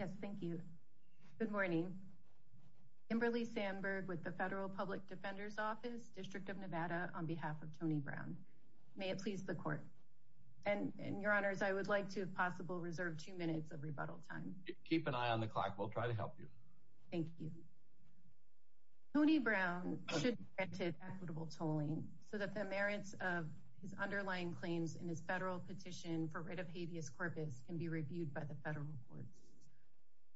Yes, thank you. Good morning. Kimberly Sandberg with the Federal Public Defender's Office, District of Nevada, on behalf of Tony Brown. May it please the Court. And, Your Honors, I would like to, if possible, reserve two minutes of rebuttal time. Keep an eye on the clock. We'll try to help you. Thank you. Tony Brown should be granted equitable tolling so that the merits of his underlying claims in his federal petition for writ of habeas corpus can be reviewed by the federal courts.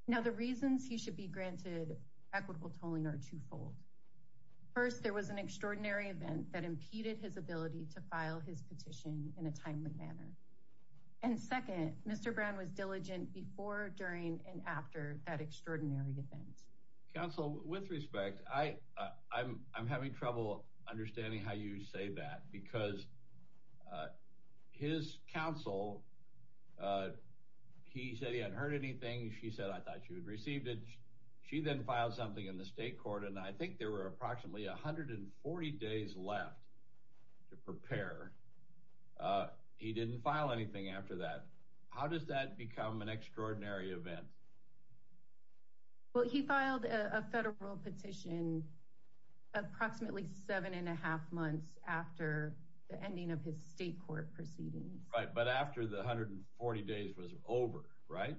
Now, the reasons he should be granted equitable tolling are twofold. First, there was an extraordinary event that impeded his ability to file his petition in a timely manner. And second, Mr. Brown was diligent before, during, and after that extraordinary event. Counsel, with respect, I'm having trouble understanding how you say that because his counsel, he said he hadn't heard anything. She said, I thought she had received it. She then filed something in the state court, and I think there were approximately 140 days left to prepare. He didn't file anything after that. How does that become an extraordinary event? Well, he filed a federal petition approximately seven and a half months after the ending of his state court proceedings. Right, but after the 140 days was over, right?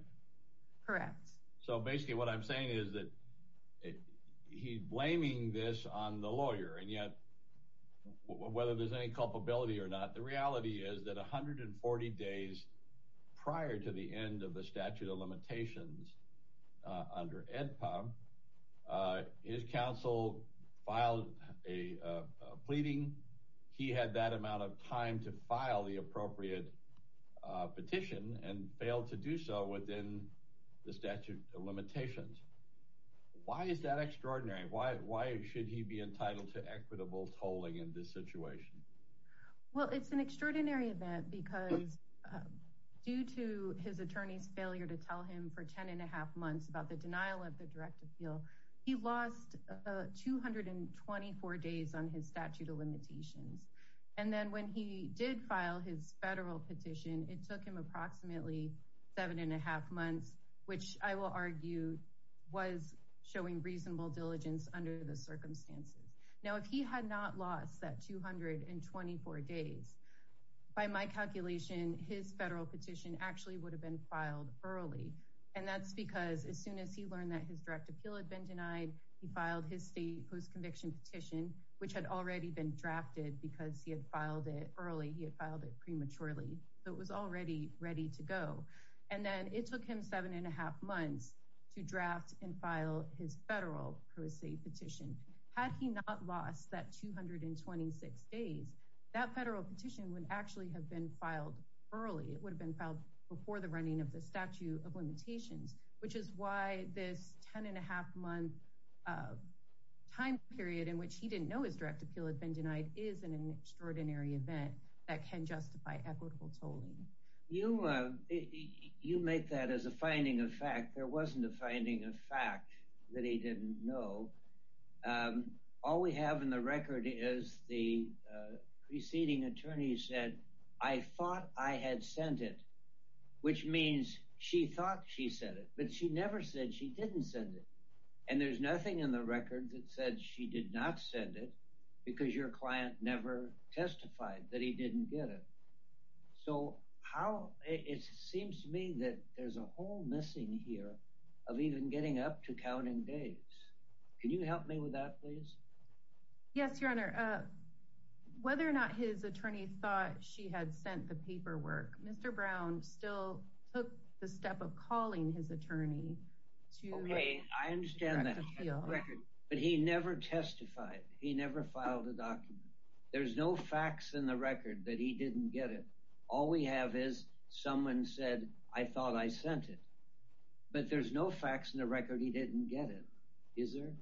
Correct. So basically what I'm saying is that he's blaming this on the lawyer. And yet, whether there's any culpability or not, the reality is that 140 days prior to the end of the statute of limitations under AEDPA, his counsel filed a pleading. He had that amount of time to file the appropriate petition and failed to do so within the statute of limitations. Why is that extraordinary? Why should he be entitled to equitable tolling in this situation? Well, it's an extraordinary event because due to his attorney's failure to tell him for ten and a half months about the denial of the direct appeal, he lost 224 days on his statute of limitations. And then when he did file his federal petition, it took him approximately seven and a half months, which I will argue was showing reasonable diligence under the circumstances. Now, if he had not lost that 224 days, by my calculation, his federal petition actually would have been filed early. And that's because as soon as he learned that his direct appeal had been denied, he filed his state post-conviction petition, which had already been drafted because he had filed it early. He had filed it prematurely, so it was already ready to go. And then it took him seven and a half months to draft and file his federal pro se petition. Had he not lost that 226 days, that federal petition would actually have been filed early. It would have been filed before the running of the statute of limitations, which is why this ten and a half month time period in which he didn't know his direct appeal had been denied is an extraordinary event that can justify equitable tolling. You make that as a finding of fact. There wasn't a finding of fact that he didn't know. All we have in the record is the preceding attorney said, I thought I had sent it, which means she thought she said it, but she never said she didn't send it. And there's nothing in the record that said she did not send it because your client never testified that he didn't get it. So how it seems to me that there's a whole missing here of even getting up to counting days. Can you help me with that, please? Yes, your honor. Whether or not his attorney thought she had sent the paperwork, Mr. Brown still took the step of calling his attorney to me. I understand that. But he never testified. He never filed a document. There's no facts in the record that he didn't get it. All we have is someone said, I thought I sent it, but there's no facts in the record. He didn't get it. Is there?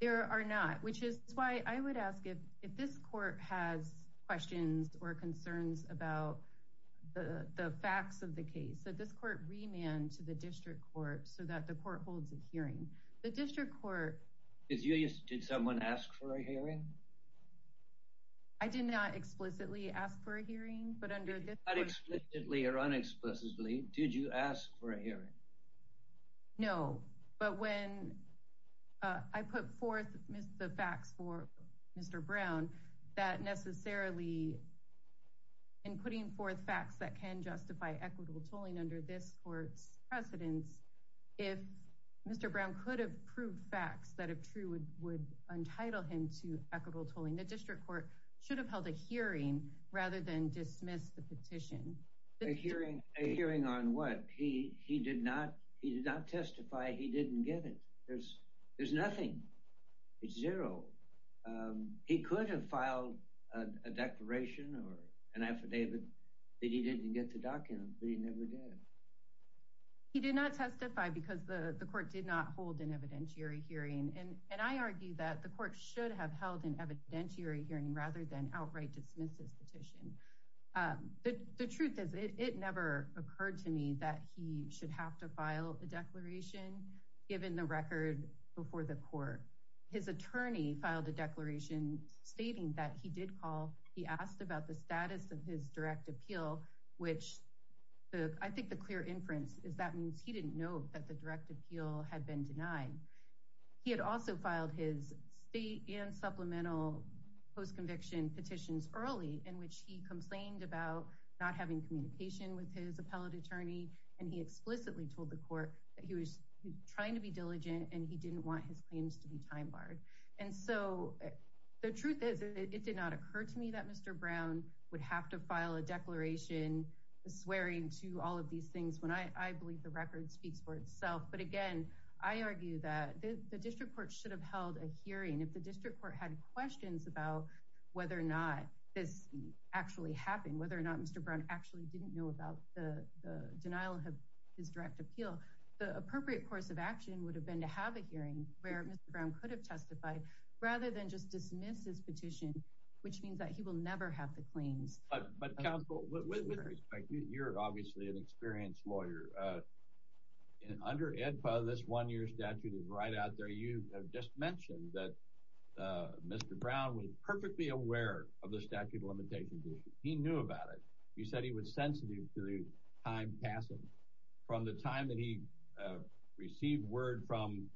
There are not, which is why I would ask if if this court has questions or concerns about the facts of the case that this court remand to the district court so that the court holds a hearing. The district court is used. Did someone ask for a hearing? I did not explicitly ask for a hearing, but under that explicitly or unexplicitly, did you ask for a hearing? No, but when I put forth the facts for Mr. Brown, that necessarily. And putting forth facts that can justify equitable tolling under this court's precedence, if Mr. Brown could have proved facts that are true would would entitle him to equitable tolling. The district court should have held a hearing rather than dismiss the petition. A hearing, a hearing on what he he did not. He did not testify. He didn't get it. There's there's nothing. It's zero. He could have filed a declaration or an affidavit that he didn't get to document, but he never did. He did not testify because the court did not hold an evidentiary hearing. And I argue that the court should have held an evidentiary hearing rather than outright dismiss this petition. The truth is, it never occurred to me that he should have to file a declaration given the record before the court. His attorney filed a declaration stating that he did call. He asked about the status of his direct appeal, which I think the clear inference is that means he didn't know that the direct appeal had been denied. He had also filed his state and supplemental post conviction petitions early in which he complained about not having communication with his appellate attorney. And he explicitly told the court that he was trying to be diligent and he didn't want his claims to be time barred. And so the truth is, it did not occur to me that Mr. Brown would have to file a declaration swearing to all of these things when I believe the record speaks for itself. But again, I argue that the district court should have held a hearing. If the district court had questions about whether or not this actually happened, whether or not Mr. Brown actually didn't know about the denial of his direct appeal, the appropriate course of action would have been to have a hearing where Mr. Brown could have testified rather than just dismiss his petition, which means that he will never have the claims. But you're obviously an experienced lawyer. And under this one year statute is right out there. You have just mentioned that Mr. Brown was perfectly aware of the statute of limitations. He knew about it. You said he was sensitive to the time passing from the time that he received word from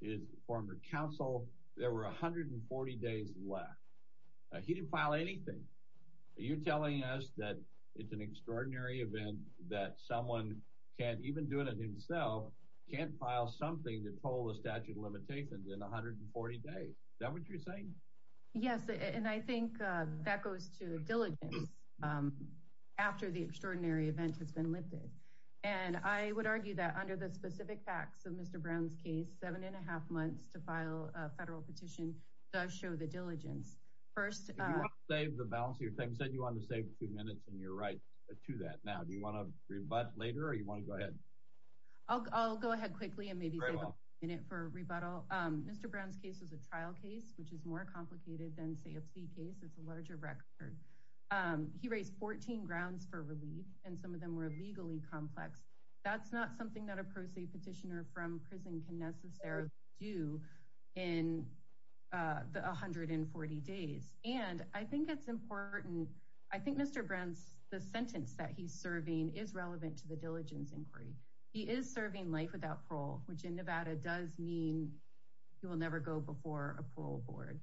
his former counsel. There were 140 days left. He didn't file anything. Are you telling us that it's an extraordinary event that someone can't even do it himself, can't file something that told the statute of limitations in 140 days? Is that what you're saying? Yes. And I think that goes to diligence after the extraordinary event has been lifted. And I would argue that under the specific facts of Mr. Brown's case, seven and a half months to file a federal petition does show the diligence. You said you wanted to save two minutes, and you're right to that. Now, do you want to rebut later or do you want to go ahead? I'll go ahead quickly and maybe save a minute for rebuttal. Mr. Brown's case was a trial case, which is more complicated than, say, a plea case. It's a larger record. He raised 14 grounds for relief, and some of them were legally complex. That's not something that a pro se petitioner from prison can necessarily do in the 140 days. And I think it's important. I think Mr. Brown's the sentence that he's serving is relevant to the diligence inquiry. He is serving life without parole, which in Nevada does mean he will never go before a parole board.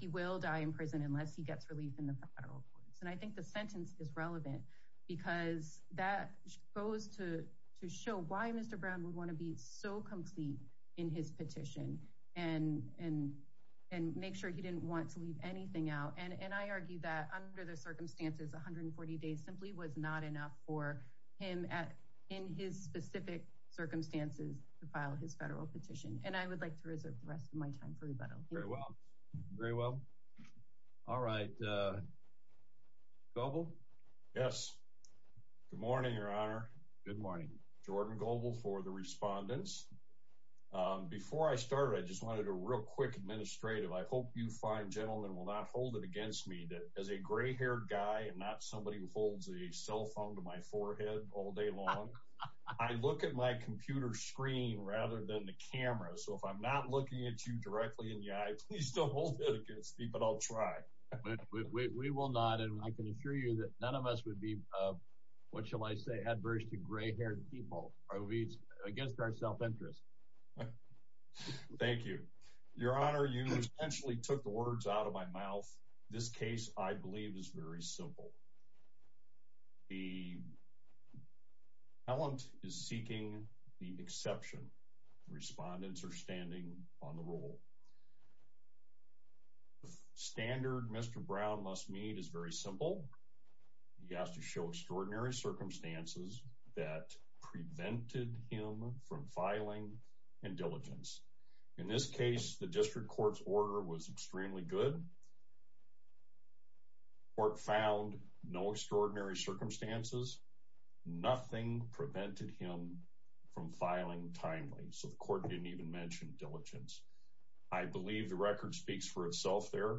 He will die in prison unless he gets relief in the federal courts. And I think the sentence is relevant because that goes to show why Mr. Brown would want to be so complete in his petition and make sure he didn't want to leave anything out. And I argue that under the circumstances, 140 days simply was not enough for him in his specific circumstances to file his federal petition. And I would like to reserve the rest of my time for rebuttal. Very well. All right. Goble? Yes. Good morning, Your Honor. Good morning. Jordan Goble for the respondents. Before I started, I just wanted a real quick administrative. I hope you fine gentlemen will not hold it against me that as a gray-haired guy and not somebody who holds a cell phone to my forehead all day long, I look at my computer screen rather than the camera. So if I'm not looking at you directly in the eye, please don't hold it against me, but I'll try. We will not, and I can assure you that none of us would be, what shall I say, adverse to gray-haired people. It's against our self-interest. Thank you. Your Honor, you essentially took the words out of my mouth. This case, I believe, is very simple. The appellant is seeking the exception. Respondents are standing on the rule. The standard Mr. Brown must meet is very simple. He has to show extraordinary circumstances that prevented him from filing and diligence. In this case, the district court's order was extremely good. Court found no extraordinary circumstances. Nothing prevented him from filing timely. So the court didn't even mention diligence. I believe the record speaks for itself there.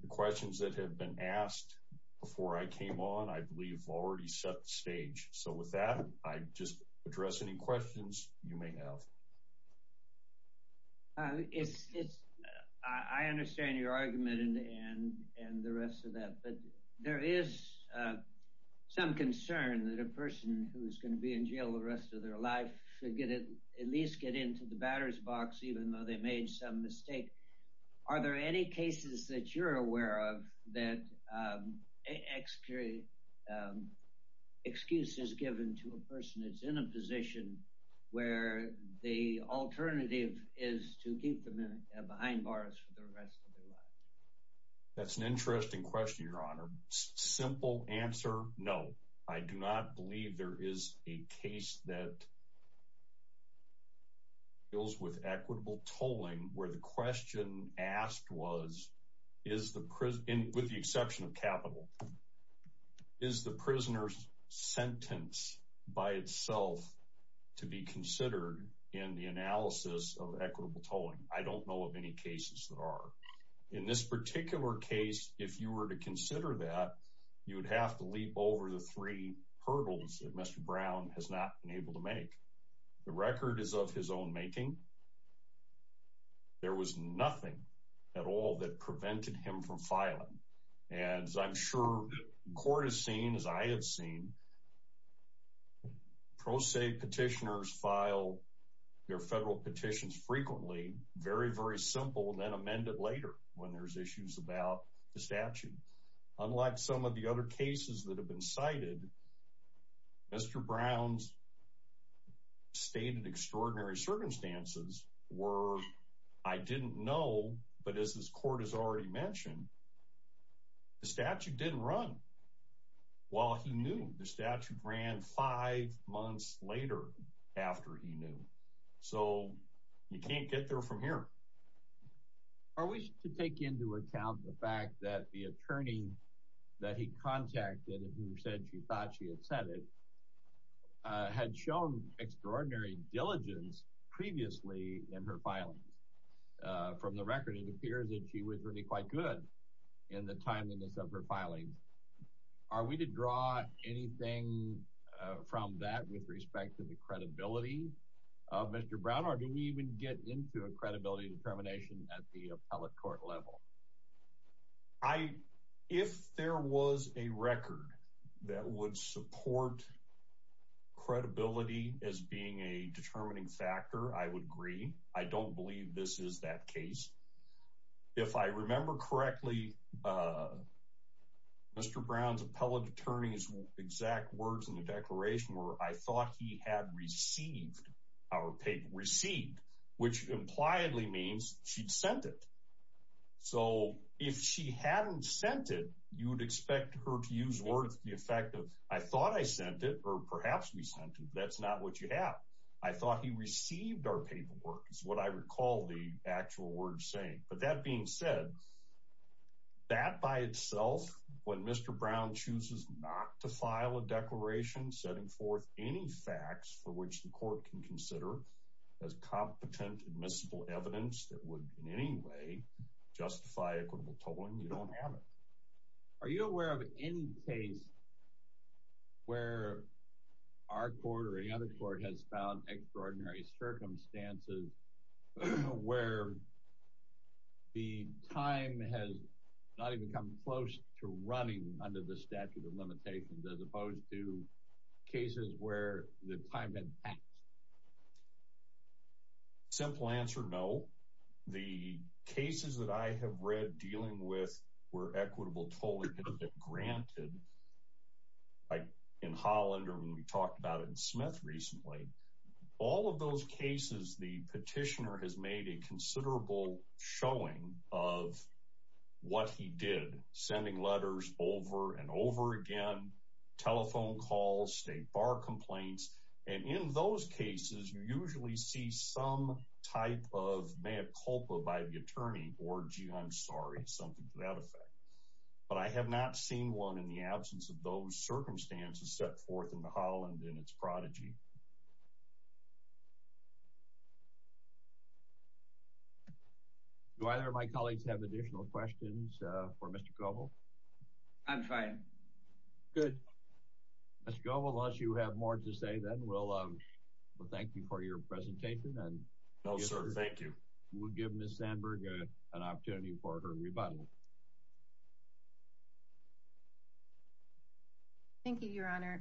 The questions that have been asked before I came on, I believe, already set the stage. So with that, I just address any questions you may have. I understand your argument and the rest of that. But there is some concern that a person who is going to be in jail the rest of their life should at least get into the batter's box, even though they made some mistake. Are there any cases that you're aware of that excuse is given to a person that's in a position where the alternative is to keep them behind bars for the rest of their life? That's an interesting question, Your Honor. Simple answer, no. I do not believe there is a case that deals with equitable tolling where the question asked was, with the exception of capital, is the prisoner's sentence by itself to be considered in the analysis of equitable tolling? I don't know of any cases that are. In this particular case, if you were to consider that, you would have to leap over the three hurdles that Mr. Brown has not been able to make. The record is of his own making. There was nothing at all that prevented him from filing. As I'm sure the court has seen, as I have seen, pro se petitioners file their federal petitions frequently, very, very simple, and then amend it later when there's issues about the statute. Unlike some of the other cases that have been cited, Mr. Brown's stated extraordinary circumstances were, I didn't know, but as this court has already mentioned, the statute didn't run while he knew. The statute ran five months later after he knew. So you can't get there from here. Are we to take into account the fact that the attorney that he contacted, who said she thought she had said it, had shown extraordinary diligence previously in her filings? From the record, it appears that she was really quite good in the timeliness of her filings. Are we to draw anything from that with respect to the credibility of Mr. Brown? Or do we even get into a credibility determination at the appellate court level? If there was a record that would support credibility as being a determining factor, I would agree. I don't believe this is that case. If I remember correctly, Mr. Brown's appellate attorney's exact words in the declaration were, I thought he had received our paper. Received, which impliedly means she'd sent it. So if she hadn't sent it, you would expect her to use words to the effect of, I thought I sent it, or perhaps we sent it. That's not what you have. I thought he received our paperwork, is what I recall the actual words saying. But that being said, that by itself, when Mr. Brown chooses not to file a declaration setting forth any facts for which the court can consider as competent admissible evidence that would in any way justify equitable tolling, you don't have it. Are you aware of any case where our court or any other court has found extraordinary circumstances where the time has not even come close to running under the statute of limitations as opposed to cases where the time had passed? Simple answer, no. The cases that I have read dealing with were equitable tolling granted, like in Holland or when we talked about it in Smith recently, all of those cases, the petitioner has made a considerable showing of what he did. Sending letters over and over again, telephone calls, state bar complaints. And in those cases, you usually see some type of mea culpa by the attorney or gee, I'm sorry, something to that effect. But I have not seen one in the absence of those circumstances set forth in the Holland in its prodigy. Do either of my colleagues have additional questions for Mr. Goebel? I'm fine. Mr. Goebel, unless you have more to say, then we'll thank you for your presentation. No, sir. Thank you. We'll give Ms. Sandberg an opportunity for her rebuttal. Thank you, Your Honor.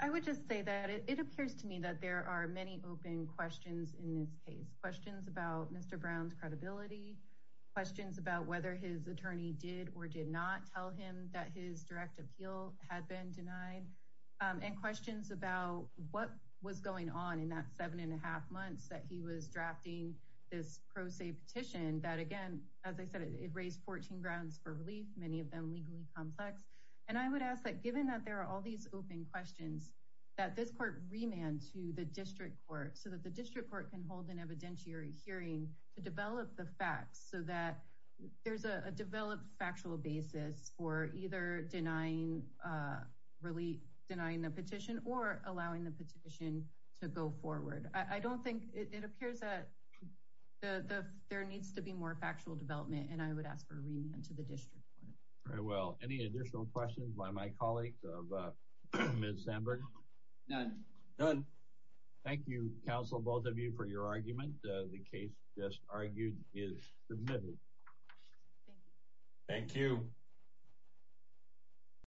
I would just say that it appears to me that there are many open questions in this case. Questions about Mr. Brown's credibility. Questions about whether his attorney did or did not tell him that his direct appeal had been denied. And questions about what was going on in that seven and a half months that he was drafting this pro se petition that, again, as I said, it raised 14 grounds for relief, many of them legally complex. And I would ask that given that there are all these open questions that this court remand to the district court so that the district court can hold an evidentiary hearing to develop the facts so that there's a developed factual basis for either denying relief, denying the petition or allowing the petition to go forward. I don't think it appears that there needs to be more factual development. And I would ask for a remand to the district court. Very well. Any additional questions by my colleagues of Ms. Sandberg? None. None. Thank you, counsel, both of you, for your argument. The case just argued is submitted. Thank you. Thank you.